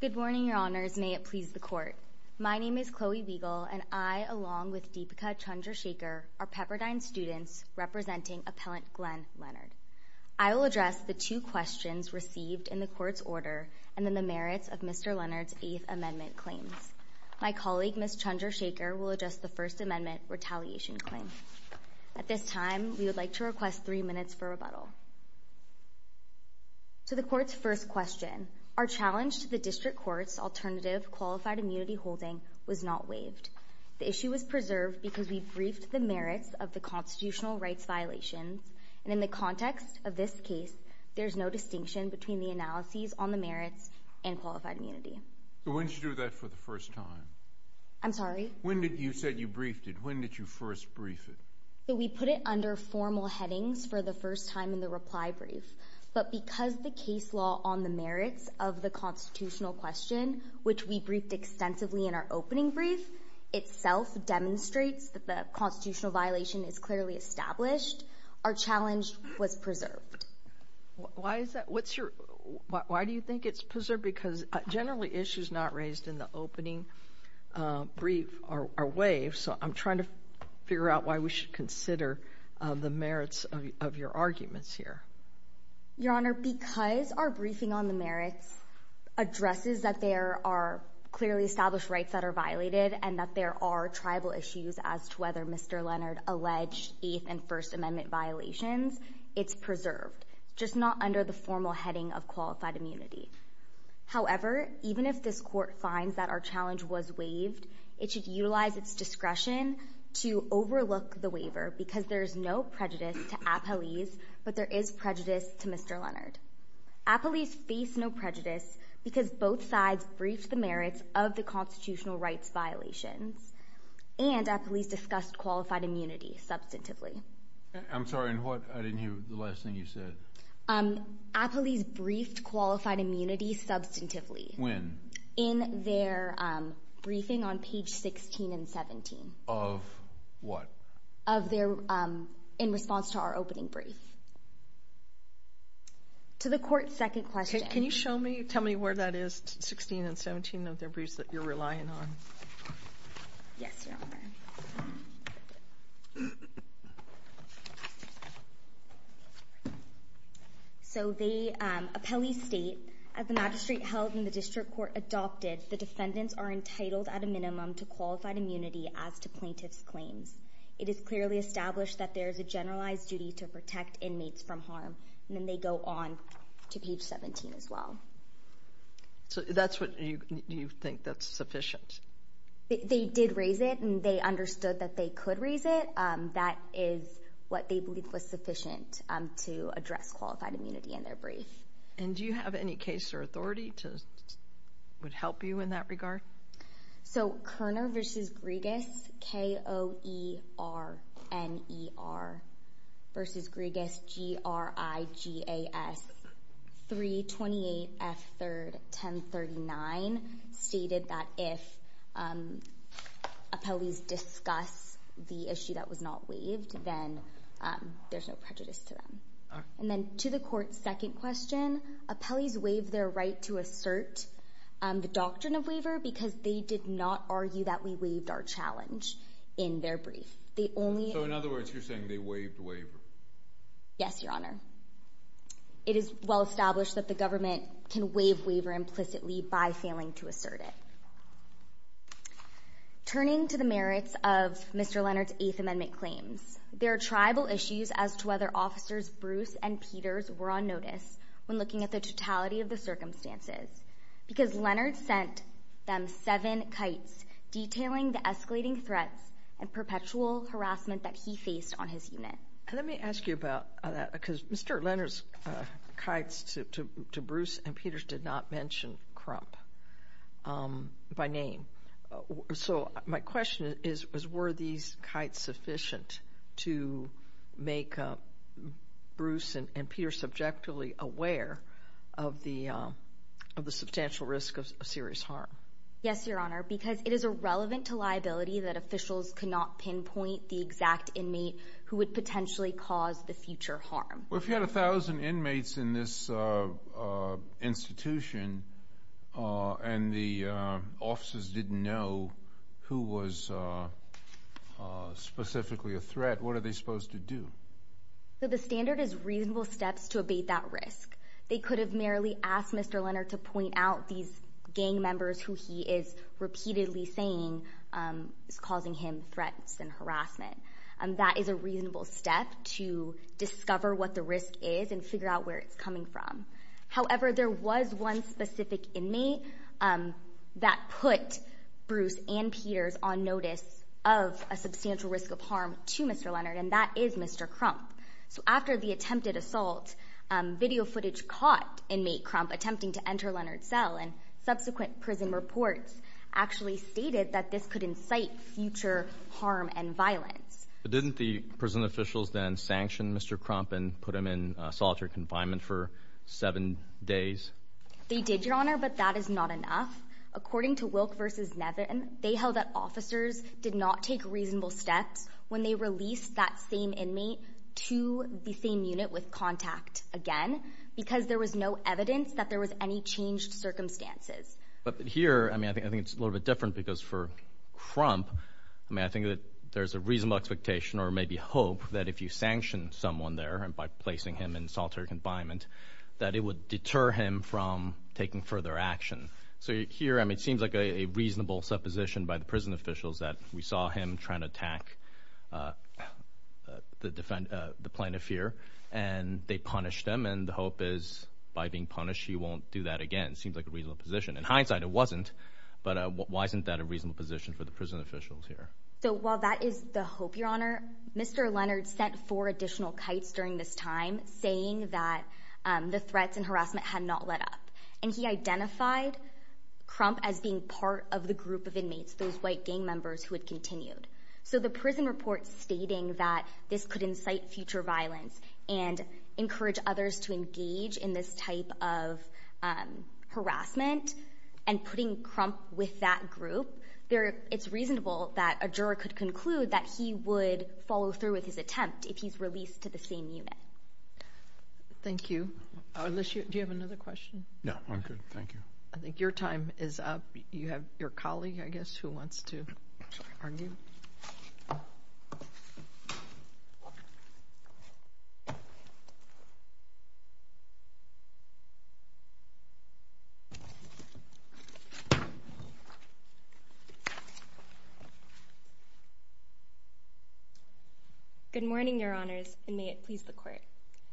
Good morning, Your Honors. May it please the Court. My name is Chloe Wiegel and I, along with Deepika Chandrasekhar, are Pepperdine students representing Appellant Glenn Leonard. I will address the two questions received in the Court's order and the merits of Mr. Chandrasekhar will address the First Amendment retaliation claim. At this time, we would like to request three minutes for rebuttal. To the Court's first question, our challenge to the District Court's alternative qualified immunity holding was not waived. The issue was preserved because we briefed the merits of the constitutional rights violations, and in the context of this case, there is no distinction between the analyses on the merits and qualified immunity. When did you do that for the first time? I'm sorry? You said you briefed it. When did you first brief it? We put it under formal headings for the first time in the reply brief, but because the case law on the merits of the constitutional question, which we briefed extensively in our opening brief, itself demonstrates that the constitutional violation is clearly established, our challenge was preserved. Why is that? Why do you think it's preserved? Because generally issues not raised in the opening brief are waived, so I'm trying to figure out why we should consider the merits of your arguments here. Your Honor, because our briefing on the merits addresses that there are clearly established rights that are violated and that there are tribal issues as to whether Mr. Leonard alleged Eighth and First Amendment violations, it's preserved, just not under the formal heading of qualified immunity. However, even if this Court finds that our challenge was waived, it should utilize its discretion to overlook the waiver because there is no prejudice to Appelese, but there is prejudice to Mr. Leonard. Appelese faced no prejudice because both sides briefed the merits of the constitutional rights violations, and Appelese discussed qualified immunity substantively. I'm sorry, what? I didn't hear the last thing you said. Appelese briefed qualified immunity substantively. When? In their briefing on page 16 and 17. Of what? Of their, in response to our opening brief. To the Court's second question. Can you show me, tell me where that is, 16 and 17 of their briefs that you're relying on? Yes, Your Honor. So they, Appelese state, as the magistrate held in the district court adopted, the defendants are entitled at a minimum to qualified immunity as to plaintiff's claims. It is clearly established that there is a generalized duty to protect inmates from harm. And then they go on to page 17 as well. So that's what you, you think that's sufficient? They did raise it, and they understood that they could raise it. That is what they believe was sufficient to address qualified immunity in their brief. And do you have any case or authority to, would help you in that regard? So Kerner v. Griegas, K-O-E-R-N-E-R v. Griegas, G-R-I-G-A-S, 328 F. 3rd, 1039, stated that if Appelese discuss the issue that was not waived, then there's no prejudice to them. And then to the Court's second question, Appelese waived their right to assert the doctrine of waiver because they did not argue that we waived our challenge in their brief. So in other words, you're saying they waived waiver? Yes, Your Honor. It is well established that the government can waive waiver implicitly by failing to assert it. Turning to the merits of Mr. Leonard's Eighth Amendment claims, there are tribal issues as to whether Officers Bruce and Peters were on notice when looking at the totality of because Leonard sent them seven kites detailing the escalating threats and perpetual harassment that he faced on his unit. Let me ask you about that because Mr. Leonard's kites to Bruce and Peters did not mention Crump by name. So my question is, were these kites sufficient to make Bruce and Peters subjectively aware of the substantial risk of serious harm? Yes, Your Honor, because it is irrelevant to liability that officials cannot pinpoint the exact inmate who would potentially cause the future harm. Well, if you had a thousand inmates in this institution and the officers didn't know who was specifically a threat, what are they supposed to do? The standard is reasonable steps to abate that risk. They could have merely asked Mr. Leonard to point out these gang members who he is repeatedly saying is causing him threats and harassment. That is a reasonable step to discover what the risk is and figure out where it's coming from. However, there was one specific inmate that put Bruce and Peters on notice of a substantial risk of harm to Mr. Leonard, and that is Mr. Crump. So after the attempted assault, video footage caught inmate Crump attempting to enter Leonard's cell and subsequent prison reports actually stated that this could incite future harm and violence. Didn't the prison officials then sanction Mr. Crump and put him in solitary confinement for seven days? They did, Your Honor, but that is not enough. According to Wilk v. Nevin, they held that officers did not take reasonable steps when they released that same inmate to the same unit with contact again because there was no evidence that there was any changed circumstances. But here, I mean, I think it's a little bit different because for Crump, I mean, I think that there's a reasonable expectation or maybe hope that if you sanction someone there by placing him in solitary confinement that it would deter him from taking further action. So here, I mean, it seems like a reasonable supposition by the prison officials that we saw him trying to attack the plaintiff here, and they punished him, and the hope is by being punished he won't do that again. It seems like a reasonable position. In hindsight, it wasn't, but why isn't that a reasonable position for the prison officials here? So while that is the hope, Your Honor, Mr. Leonard sent four additional kites during this time saying that the threats and harassment had not let up, and he identified Crump as being part of the group of inmates, those white gang members who had continued. So the prison report stating that this could incite future violence and encourage others to engage in this type of harassment and putting Crump with that group, it's reasonable that a juror could conclude that he would follow through with his attempt if he's released to the same unit. Thank you. Do you have another question? No, I'm good. Thank you. I think your time is up. You have your colleague, I guess, who wants to argue. Good morning, Your Honors, and may it please the Court.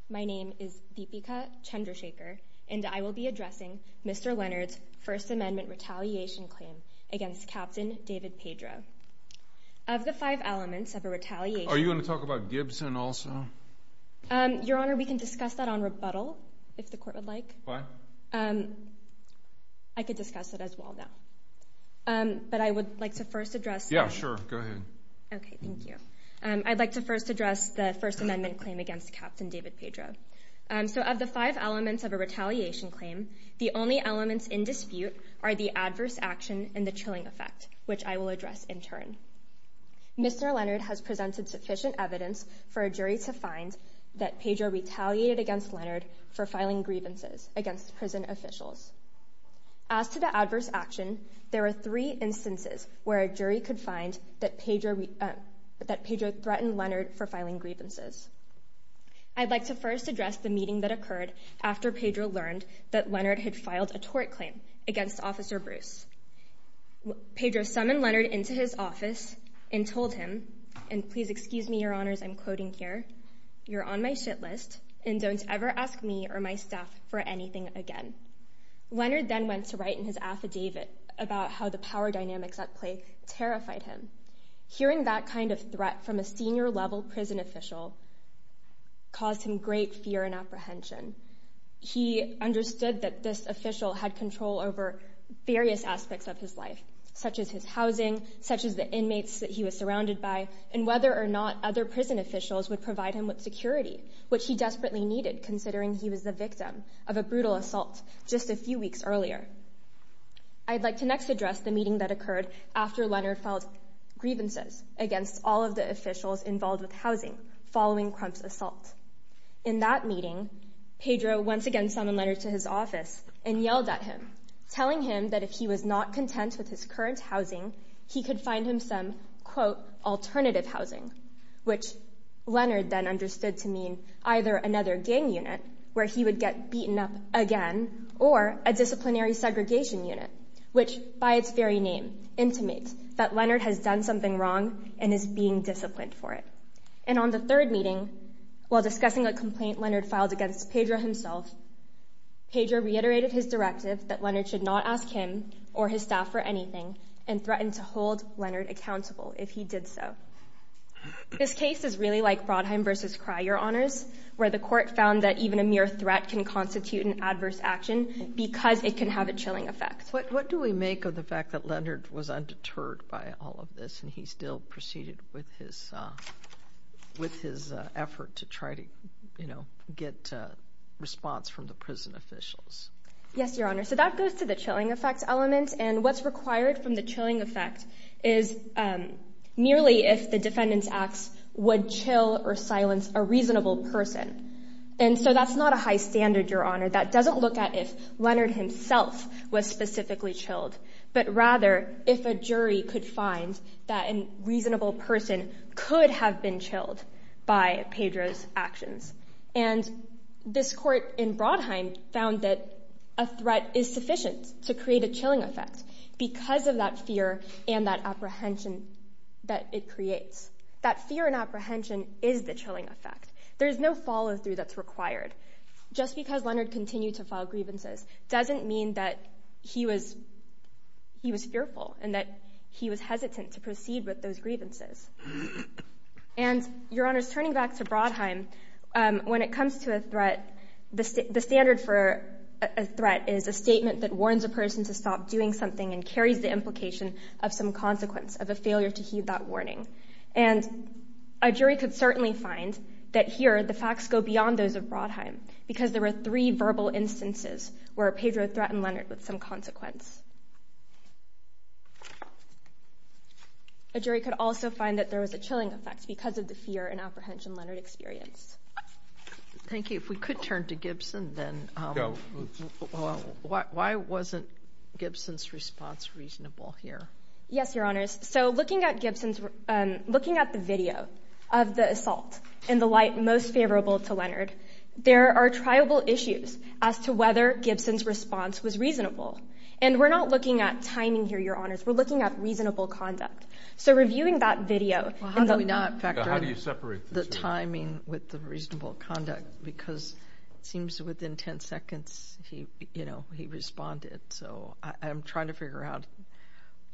My name is Deepika Chandrashekar, and I will be addressing Mr. Leonard's First Amendment retaliation claim against Captain David Pedro. Of the five elements of a retaliation— Are you going to talk about Gibson also? Your Honor, we can discuss that on rebuttal, if the Court would like. Why? I could discuss it as well now. But I would like to first address— Yeah, sure, go ahead. Okay, thank you. I'd like to first address the First Amendment claim against Captain David Pedro. Of the five elements of a retaliation claim, the only elements in dispute are the adverse action and the chilling effect, which I will address in turn. Mr. Leonard has presented sufficient evidence for a jury to find that Pedro retaliated against Leonard for filing grievances against prison officials. As to the adverse action, there are three instances where a jury could find that Pedro threatened Leonard for filing grievances. I'd like to first address the meeting that occurred after Pedro learned that Leonard had filed a tort claim against Officer Bruce. Pedro summoned Leonard into his office and told him, and please excuse me, Your Honors, I'm quoting here, you're on my shit list, and don't ever ask me or my staff for anything again. Leonard then went to write in his affidavit about how the power dynamics at play terrified him. Hearing that kind of threat from a senior-level prison official caused him great fear and apprehension. He understood that this official had control over various aspects of his life, such as his housing, such as the inmates that he was surrounded by, and whether or not other prison officials would provide him with security, which he desperately needed considering he was the victim of a brutal assault just a few weeks earlier. I'd like to next address the meeting that occurred after Leonard filed grievances against all of the officials involved with housing following Crump's assault. In that meeting, Pedro once again summoned Leonard to his office and yelled at him, telling him that if he was not content with his current housing, he could find him some, quote, alternative housing, which Leonard then understood to mean either another gang unit where he would get beaten up again, or a disciplinary segregation unit, which by its very name intimates that Leonard has done something wrong and is being disciplined for it. And on the third meeting, while discussing a complaint Leonard filed against Pedro himself, Pedro reiterated his directive that Leonard should not ask him or his staff for anything and threatened to hold Leonard accountable if he did so. This case is really like Brodheim v. Cry, Your Honors, where the court found that even a mere threat can constitute an adverse action because it can have a chilling effect. What do we make of the fact that Leonard was undeterred by all of this and he still proceeded with his effort to try to, you know, get response from the prison officials? Yes, Your Honor. So that goes to the chilling effect element, and what's required from the chilling effect is merely if the defendant's acts would chill or silence a reasonable person. And so that's not a high standard, Your Honor. That doesn't look at if Leonard himself was specifically chilled, but rather if a jury could find that a reasonable person could have been chilled by Pedro's actions. And this court in Brodheim found that a threat is sufficient to create a chilling effect because of that fear and that apprehension that it creates. That fear and apprehension is the chilling effect. There is no follow-through that's required. Just because Leonard continued to file grievances doesn't mean that he was fearful and that he was hesitant to proceed with those grievances. And, Your Honor, turning back to Brodheim, when it comes to a threat, the standard for a threat is a statement that warns a person to stop doing something and carries the implication of some consequence of a failure to heed that warning. And a jury could certainly find that here the facts go beyond those of Brodheim because there were three verbal instances where Pedro threatened Leonard with some consequence. A jury could also find that there was a chilling effect because of the fear and apprehension Leonard experienced. Thank you. If we could turn to Gibson, then. Go. Why wasn't Gibson's response reasonable here? Yes, Your Honors. So looking at the video of the assault in the light most favorable to Leonard, there are triable issues as to whether Gibson's response was reasonable. And we're not looking at timing here, Your Honors. We're looking at reasonable conduct. So reviewing that video. Well, how do we not factor in the timing with the reasonable conduct? Because it seems within 10 seconds he responded. So I'm trying to figure out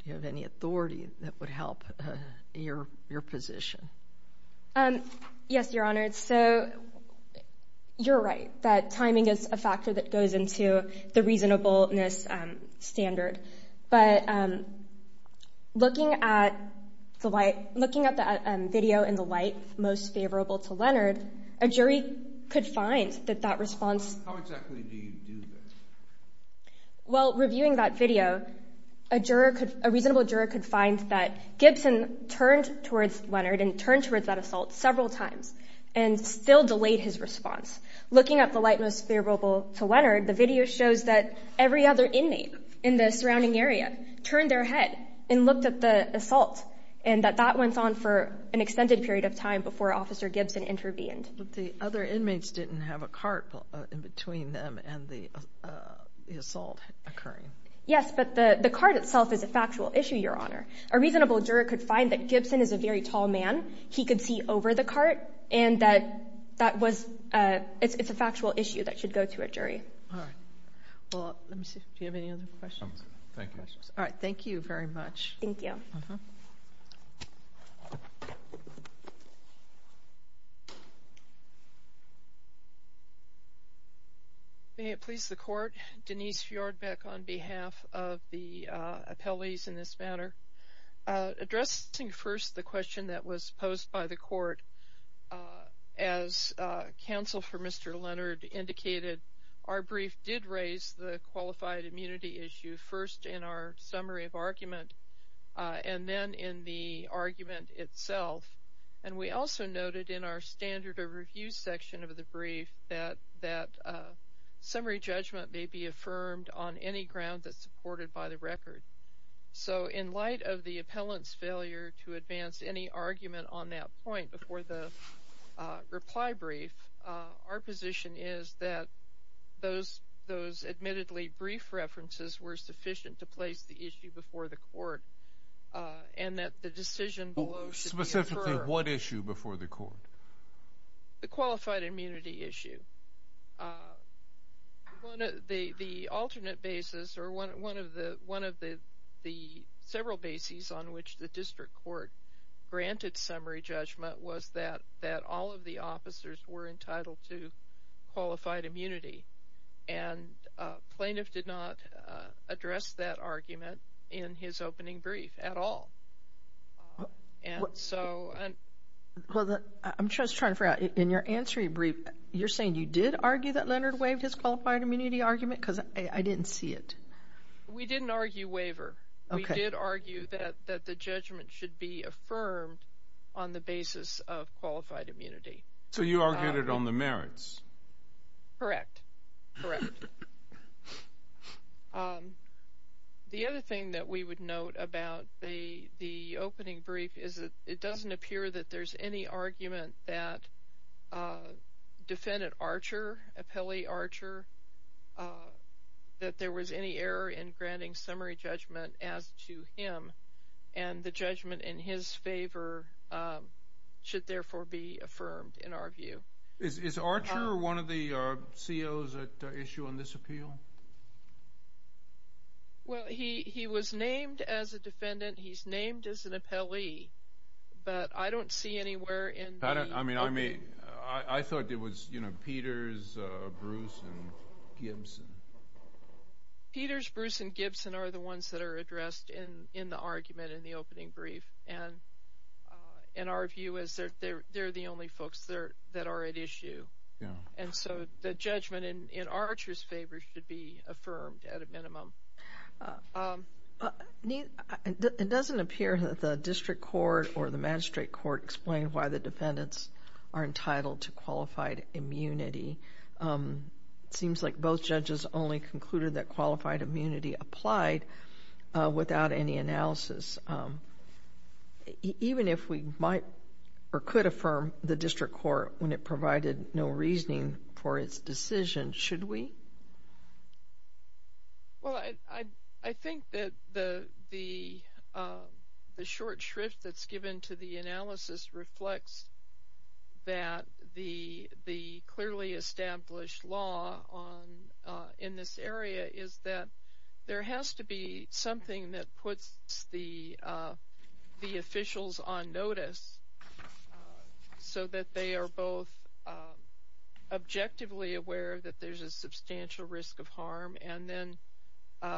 if you have any authority that would help your position. Yes, Your Honors. So you're right that timing is a factor that goes into the reasonableness standard. But looking at the video in the light most favorable to Leonard, a jury could find that that response. How exactly do you do this? Well, reviewing that video, a reasonable juror could find that Gibson turned towards Leonard and turned towards that assault several times and still delayed his response. Looking at the light most favorable to Leonard, the video shows that every other inmate in the surrounding area turned their head and looked at the assault and that that went on for an extended period of time before Officer Gibson intervened. But the other inmates didn't have a cart in between them and the assault occurring. Yes, but the cart itself is a factual issue, Your Honor. A reasonable juror could find that Gibson is a very tall man. He could see over the cart and that it's a factual issue that should go to a jury. All right. Well, let me see if you have any other questions. Thank you. All right. Thank you very much. Thank you. May it please the Court, Denise Fjordbeck on behalf of the appellees in this matter. Addressing first the question that was posed by the Court, as counsel for Mr. Leonard indicated, our brief did raise the qualified immunity issue first in our summary of argument and then in the argument itself. And we also noted in our standard of review section of the brief that summary judgment may be affirmed on any ground that's supported by the record. So in light of the appellant's failure to advance any argument on that point before the reply brief, our position is that those admittedly brief references were sufficient to place the issue before the Court and that the decision below should be affirmed. Specifically what issue before the Court? The qualified immunity issue. The alternate basis or one of the several bases on which the District Court granted summary judgment was that all of the officers were entitled to qualified immunity. And plaintiff did not address that argument in his opening brief at all. I'm just trying to figure out, in your answer to your brief, you're saying you did argue that Leonard waived his qualified immunity argument? Because I didn't see it. We didn't argue waiver. We did argue that the judgment should be affirmed on the basis of qualified immunity. So you argued it on the merits? Correct. The other thing that we would note about the opening brief is that it doesn't appear that there's any argument that defendant Archer, appellee Archer, that there was any error in granting summary judgment as to him and the judgment in his favor should therefore be affirmed in our view. Is Archer one of the COs at issue on this appeal? Well, he was named as a defendant. He's named as an appellee. But I don't see anywhere in the opinion. I mean, I thought it was, you know, Peters, Bruce, and Gibson. Peters, Bruce, and Gibson are the ones that are addressed in the argument in the opening brief. And our view is they're the only folks that are at issue. And so the judgment in Archer's favor should be affirmed at a minimum. It doesn't appear that the district court or the magistrate court explained why the defendants are entitled to qualified immunity. It seems like both judges only concluded that qualified immunity applied without any analysis. Even if we might or could affirm the district court when it provided no reasoning for its decision, should we? Well, I think that the short shrift that's given to the analysis reflects that the clearly established law in this area is that there has to be something that puts the officials on notice so that they are both objectively aware that there's a substantial risk of harm and then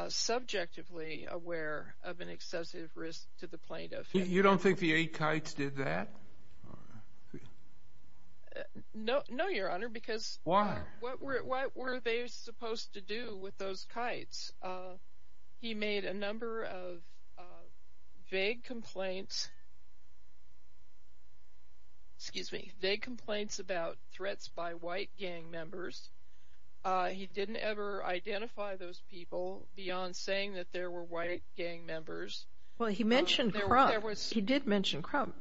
subjectively aware of an excessive risk to the plaintiff. You don't think the eight kites did that? No, Your Honor, because what were they supposed to do with those kites? He made a number of vague complaints about threats by white gang members. He didn't ever identify those people beyond saying that there were white gang members. Well, he mentioned Crump. He did mention Crump.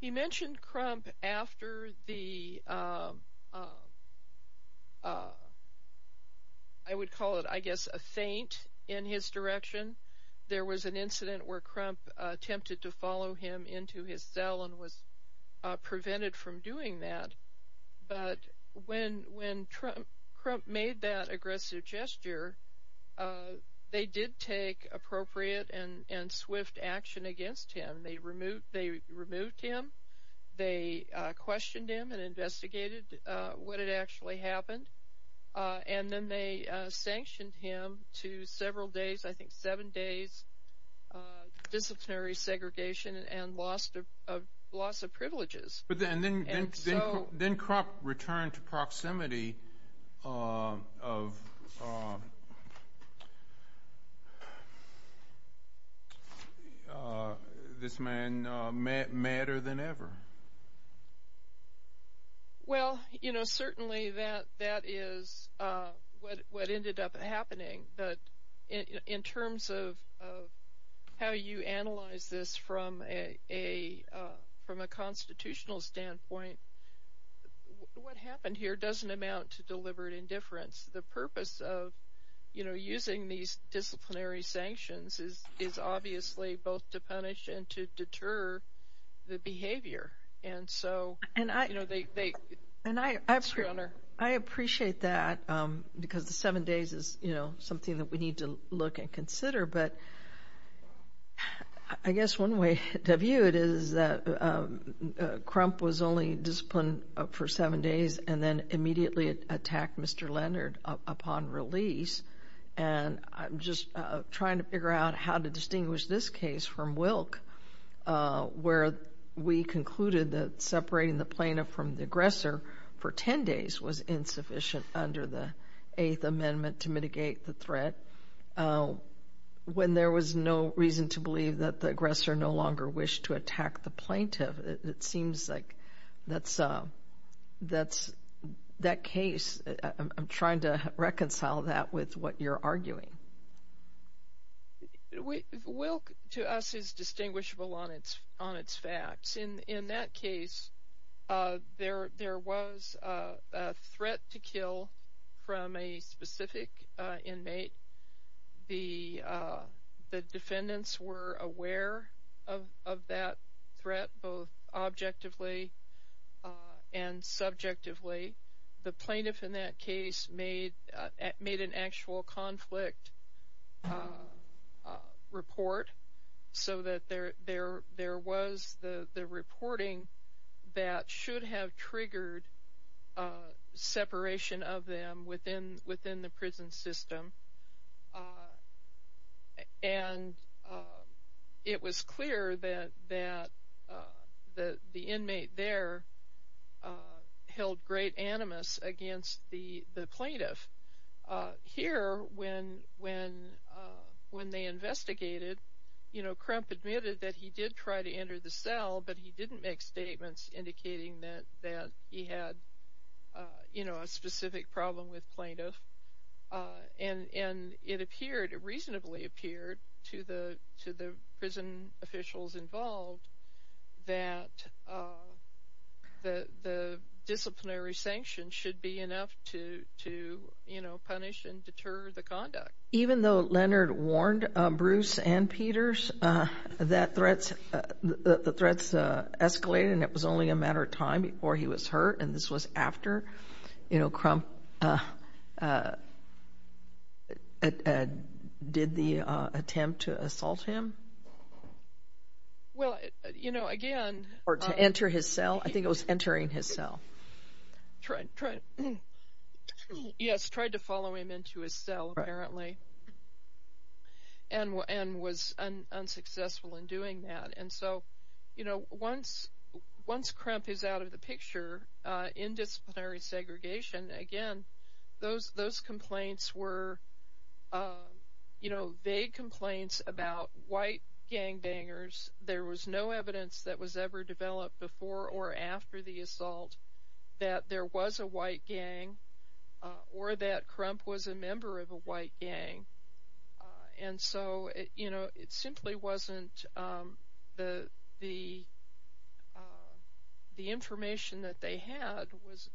He mentioned Crump after the, I would call it, I guess, a feint in his direction. There was an incident where Crump attempted to follow him into his cell and was prevented from doing that. But when Crump made that aggressive gesture, they did take appropriate and swift action against him. They removed him. They questioned him and investigated what had actually happened. And then they sanctioned him to several days, I think seven days, disciplinary segregation and loss of privileges. But then Crump returned to proximity of this man madder than ever. Well, you know, certainly that is what ended up happening. But in terms of how you analyze this from a constitutional standpoint, what happened here doesn't amount to deliberate indifference. The purpose of, you know, using these disciplinary sanctions is obviously both to punish and to deter the behavior. And so, you know, they screw on her. And I appreciate that because the seven days is, you know, something that we need to look and consider. But I guess one way to view it is that Crump was only disciplined for seven days and then immediately attacked Mr. Leonard upon release. And I'm just trying to figure out how to distinguish this case from Wilk, where we concluded that separating the plaintiff from the aggressor for 10 days was insufficient under the Eighth Amendment to mitigate the threat, when there was no reason to believe that the aggressor no longer wished to attack the plaintiff. It seems like that's that's that case. I'm trying to reconcile that with what you're arguing. Wilk, to us, is distinguishable on its facts. In that case, there was a threat to kill from a specific inmate. The defendants were aware of that threat, both objectively and subjectively. The plaintiff in that case made an actual conflict report, so that there was the reporting that should have triggered separation of them within the prison system. And it was clear that the inmate there held great animus against the plaintiff. Here, when they investigated, Crump admitted that he did try to enter the cell, but he didn't make statements indicating that he had a specific problem with plaintiff. And it reasonably appeared to the prison officials involved that the disciplinary sanction should be enough to punish and deter the conduct. Even though Leonard warned Bruce and Peters that the threats escalated and it was only a matter of time before he was hurt, and this was after Crump did the attempt to assault him? Or to enter his cell? I think it was entering his cell. Yes, tried to follow him into his cell, apparently, and was unsuccessful in doing that. Once Crump is out of the picture in disciplinary segregation, again, those complaints were vague complaints about white gangbangers. There was no evidence that was ever developed before or after the assault that there was a white gang or that Crump was a member of a white gang. And so it simply wasn't the information that they had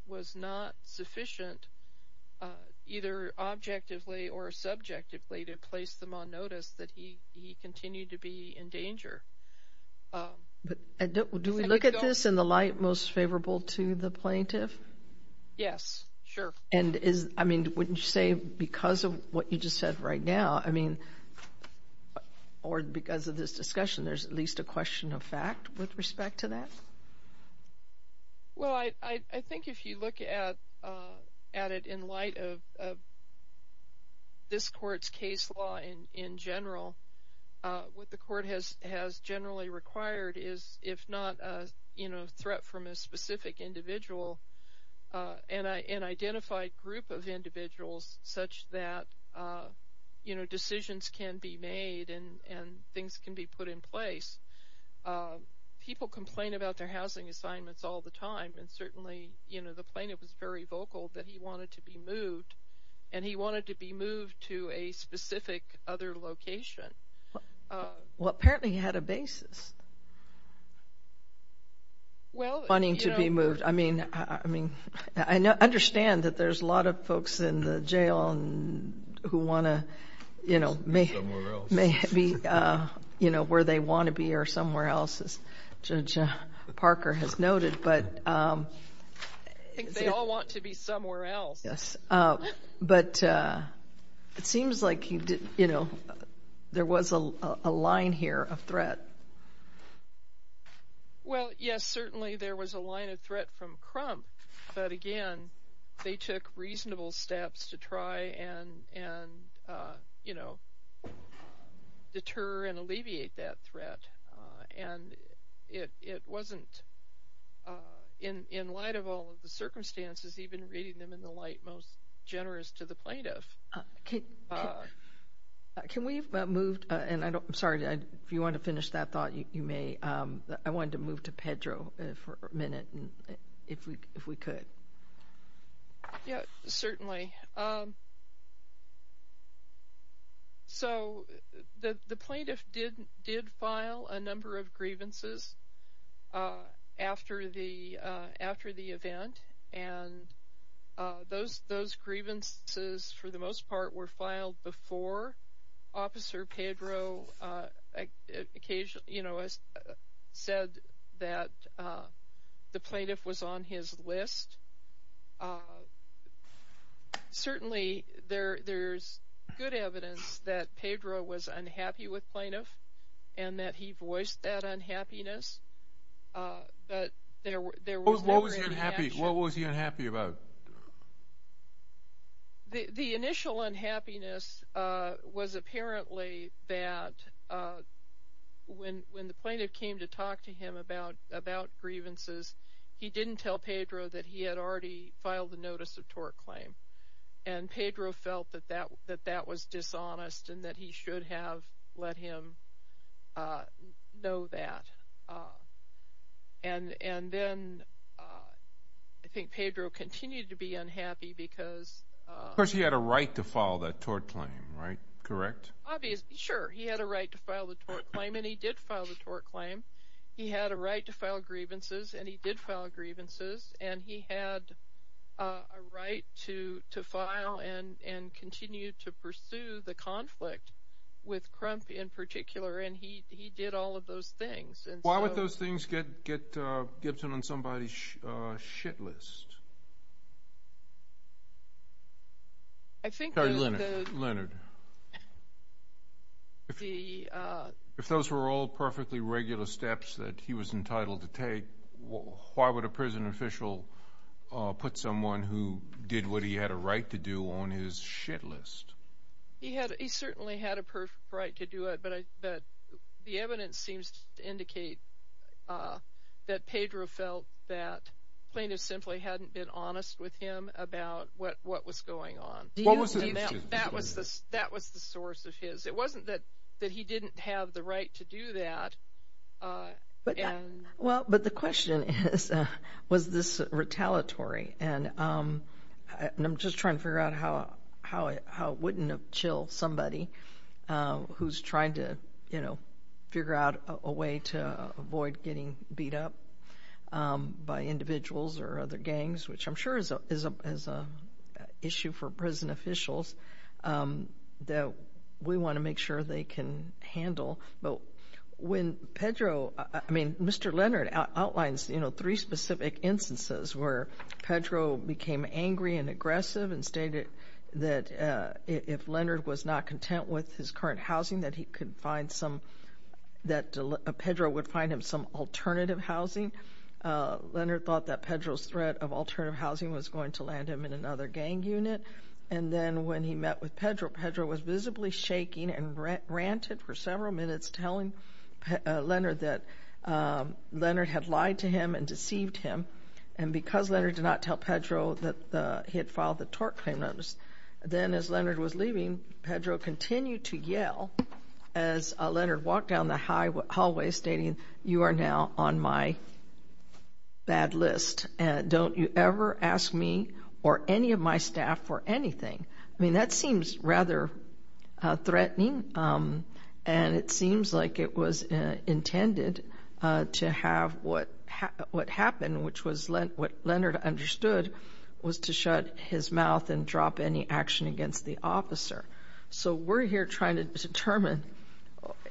was not sufficient, either objectively or subjectively, to place them on notice that he continued to be in danger. Do we look at this in the light most favorable to the plaintiff? Yes, sure. I mean, wouldn't you say because of what you just said right now, or because of this discussion, there's at least a question of fact with respect to that? Well, I think if you look at it in light of this court's case law in general, what the court has generally required is, if not a threat from a specific individual, an identified group of individuals such that decisions can be made and things can be put in place. People complain about their housing assignments all the time, and certainly the plaintiff was very vocal that he wanted to be moved, and he wanted to be moved to a specific other location. Well, apparently he had a basis wanting to be moved. I mean, I understand that there's a lot of folks in the jail who want to be where they want to be or somewhere else, as Judge Parker has noted. I think they all want to be somewhere else. Yes. But it seems like there was a line here of threat. Well, yes, certainly there was a line of threat from Crump, but again they took reasonable steps to try and, you know, deter and alleviate that threat. And it wasn't, in light of all of the circumstances, even reading them in the light most generous to the plaintiff. Can we move? And I'm sorry, if you want to finish that thought, you may. I wanted to move to Pedro for a minute, if we could. Yes, certainly. So the plaintiff did file a number of grievances after the event, and those grievances, for the most part, were filed before Officer Pedro said that the plaintiff was on his list. Certainly there's good evidence that Pedro was unhappy with plaintiff and that he voiced that unhappiness. But there was never any action. What was he unhappy about? The initial unhappiness was apparently that when the plaintiff came to talk to him about grievances, he didn't tell Pedro that he had already filed the notice of tort claim, and Pedro felt that that was dishonest and that he should have let him know that. And then I think Pedro continued to be unhappy because... Of course he had a right to file that tort claim, right? Correct? Obviously, sure. He had a right to file the tort claim, and he did file the tort claim. He had a right to file grievances, and he did file grievances. And he had a right to file and continue to pursue the conflict with Crump in particular, and he did all of those things. Why would those things get Gibson on somebody's shit list? I think that... Sorry, Leonard. Leonard. If those were all perfectly regular steps that he was entitled to take, why would a prison official put someone who did what he had a right to do on his shit list? He certainly had a perfect right to do it, but the evidence seems to indicate that Pedro felt that plaintiff simply hadn't been honest with him about what was going on. What was the issue? That was the source of his... It wasn't that he didn't have the right to do that. Well, but the question is, was this retaliatory? And I'm just trying to figure out how it wouldn't have chilled somebody who's trying to, you know, figure out a way to avoid getting beat up by individuals or other gangs, which I'm sure is an issue for prison officials that we want to make sure they can handle. But when Pedro... I mean, Mr. Leonard outlines, you know, three specific instances where Pedro became angry and aggressive and stated that if Leonard was not content with his current housing, that he could find some... that Pedro would find him some alternative housing. Leonard thought that Pedro's threat of alternative housing was going to land him in another gang unit. And then when he met with Pedro, Pedro was visibly shaking and ranted for several minutes, telling Leonard that Leonard had lied to him and deceived him. And because Leonard did not tell Pedro that he had filed the tort claim notice, then as Leonard was leaving, Pedro continued to yell as Leonard walked down the hallway, stating, you are now on my bad list, and don't you ever ask me or any of my staff for anything. I mean, that seems rather threatening, and it seems like it was intended to have what happened, which was what Leonard understood was to shut his mouth and drop any action against the officer. So we're here trying to determine,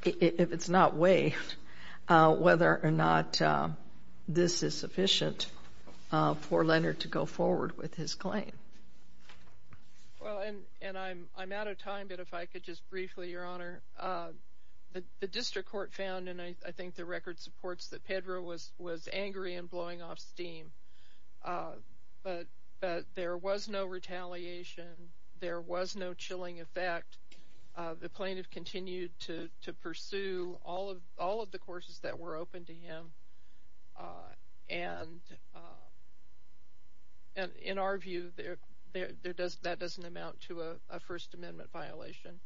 if it's not waived, whether or not this is sufficient for Leonard to go forward with his claim. Well, and I'm out of time, but if I could just briefly, Your Honor. The district court found, and I think the record supports that Pedro was angry and blowing off steam, but there was no retaliation. There was no chilling effect. The plaintiff continued to pursue all of the courses that were open to him, and in our view, that doesn't amount to a First Amendment violation.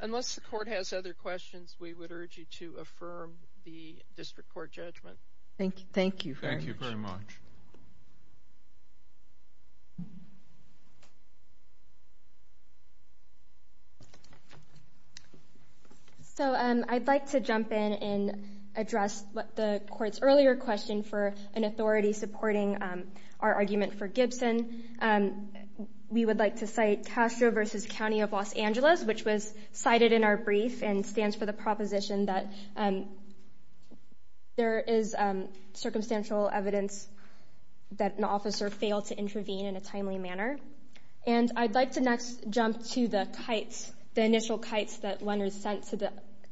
Unless the court has other questions, we would urge you to affirm the district court judgment. Thank you. Thank you very much. So I'd like to jump in and address the court's earlier question for an authority supporting our argument for Gibson. We would like to cite Castro v. County of Los Angeles, which was cited in our brief and stands for the proposition that there is circumstantial evidence that an officer failed to intervene in a timely manner. And I'd like to next jump to the kites, the initial kites that Leonard sent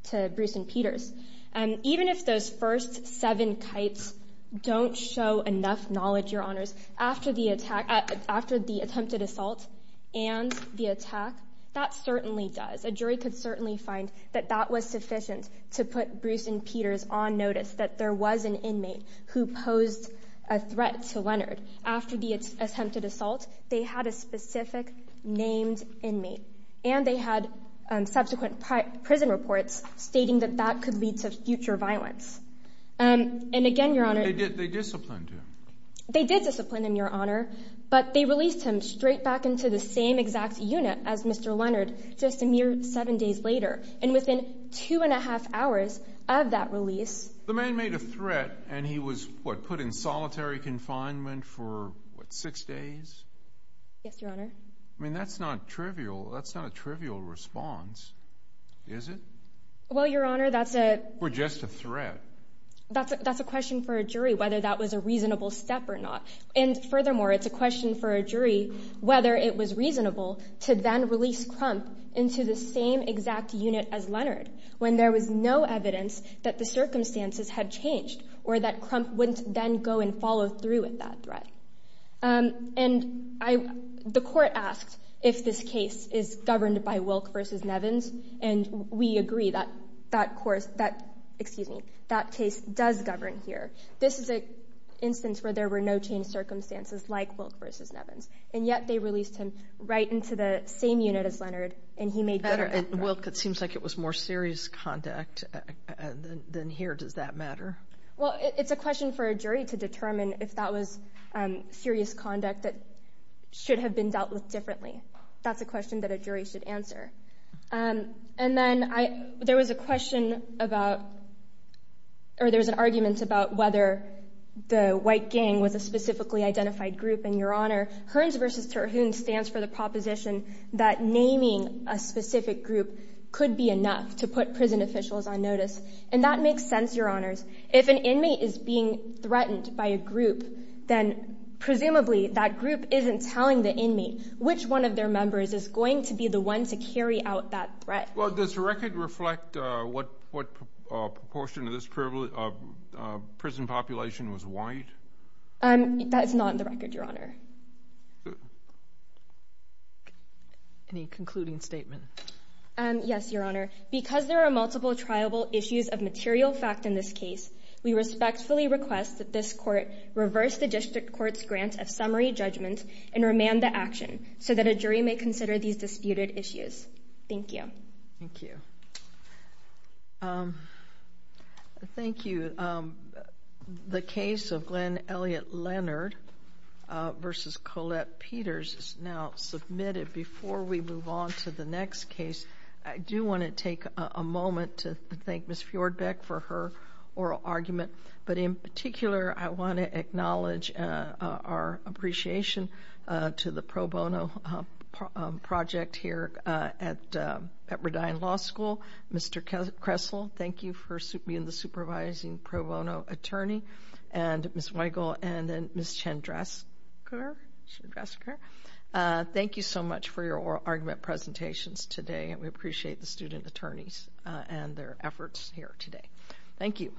to Bruce and Peter's. Even if those first seven kites don't show enough knowledge, Your Honors, after the attempted assault and the attack, that certainly does. A jury could certainly find that that was sufficient to put Bruce and Peter's on notice, that there was an inmate who posed a threat to Leonard. After the attempted assault, they had a specific named inmate, and they had subsequent prison reports stating that that could lead to future violence. And again, Your Honor- They disciplined him. They did discipline him, Your Honor, but they released him straight back into the same exact unit as Mr. Leonard just a mere seven days later. And within two and a half hours of that release- The man made a threat, and he was, what, put in solitary confinement for, what, six days? Yes, Your Honor. I mean, that's not trivial. That's not a trivial response, is it? Or just a threat. That's a question for a jury, whether that was a reasonable step or not. And furthermore, it's a question for a jury whether it was reasonable to then release Crump into the same exact unit as Leonard when there was no evidence that the circumstances had changed or that Crump wouldn't then go and follow through with that threat. And the court asked if this case is governed by Wilk v. Nevins, and we agree that that case does govern here. This is an instance where there were no changed circumstances like Wilk v. Nevins. And yet they released him right into the same unit as Leonard, and he made better efforts. Wilk, it seems like it was more serious conduct than here. Does that matter? Well, it's a question for a jury to determine if that was serious conduct that should have been dealt with differently. That's a question that a jury should answer. And then there was a question about or there was an argument about whether the white gang was a specifically identified group. And, Your Honor, Hearns v. Terhune stands for the proposition that naming a specific group could be enough to put prison officials on notice. And that makes sense, Your Honors. If an inmate is being threatened by a group, then presumably that group isn't telling the inmate which one of their members is going to be the one to carry out that threat. Well, does the record reflect what proportion of this prison population was white? That is not in the record, Your Honor. Any concluding statement? Yes, Your Honor. Because there are multiple triable issues of material fact in this case, we respectfully request that this court reverse the district court's grant of summary judgment and remand the action so that a jury may consider these disputed issues. Thank you. Thank you. Thank you. The case of Glenn Elliott Leonard v. Colette Peters is now submitted. Before we move on to the next case, I do want to take a moment to thank Ms. Fjordbeck for her oral argument. But in particular, I want to acknowledge our appreciation to the pro bono project here at Redine Law School. Mr. Kressel, thank you for being the supervising pro bono attorney. And Ms. Weigel and Ms. Chandrasekar, thank you so much for your oral argument presentations today. We appreciate the student attorneys and their efforts here today. Thank you.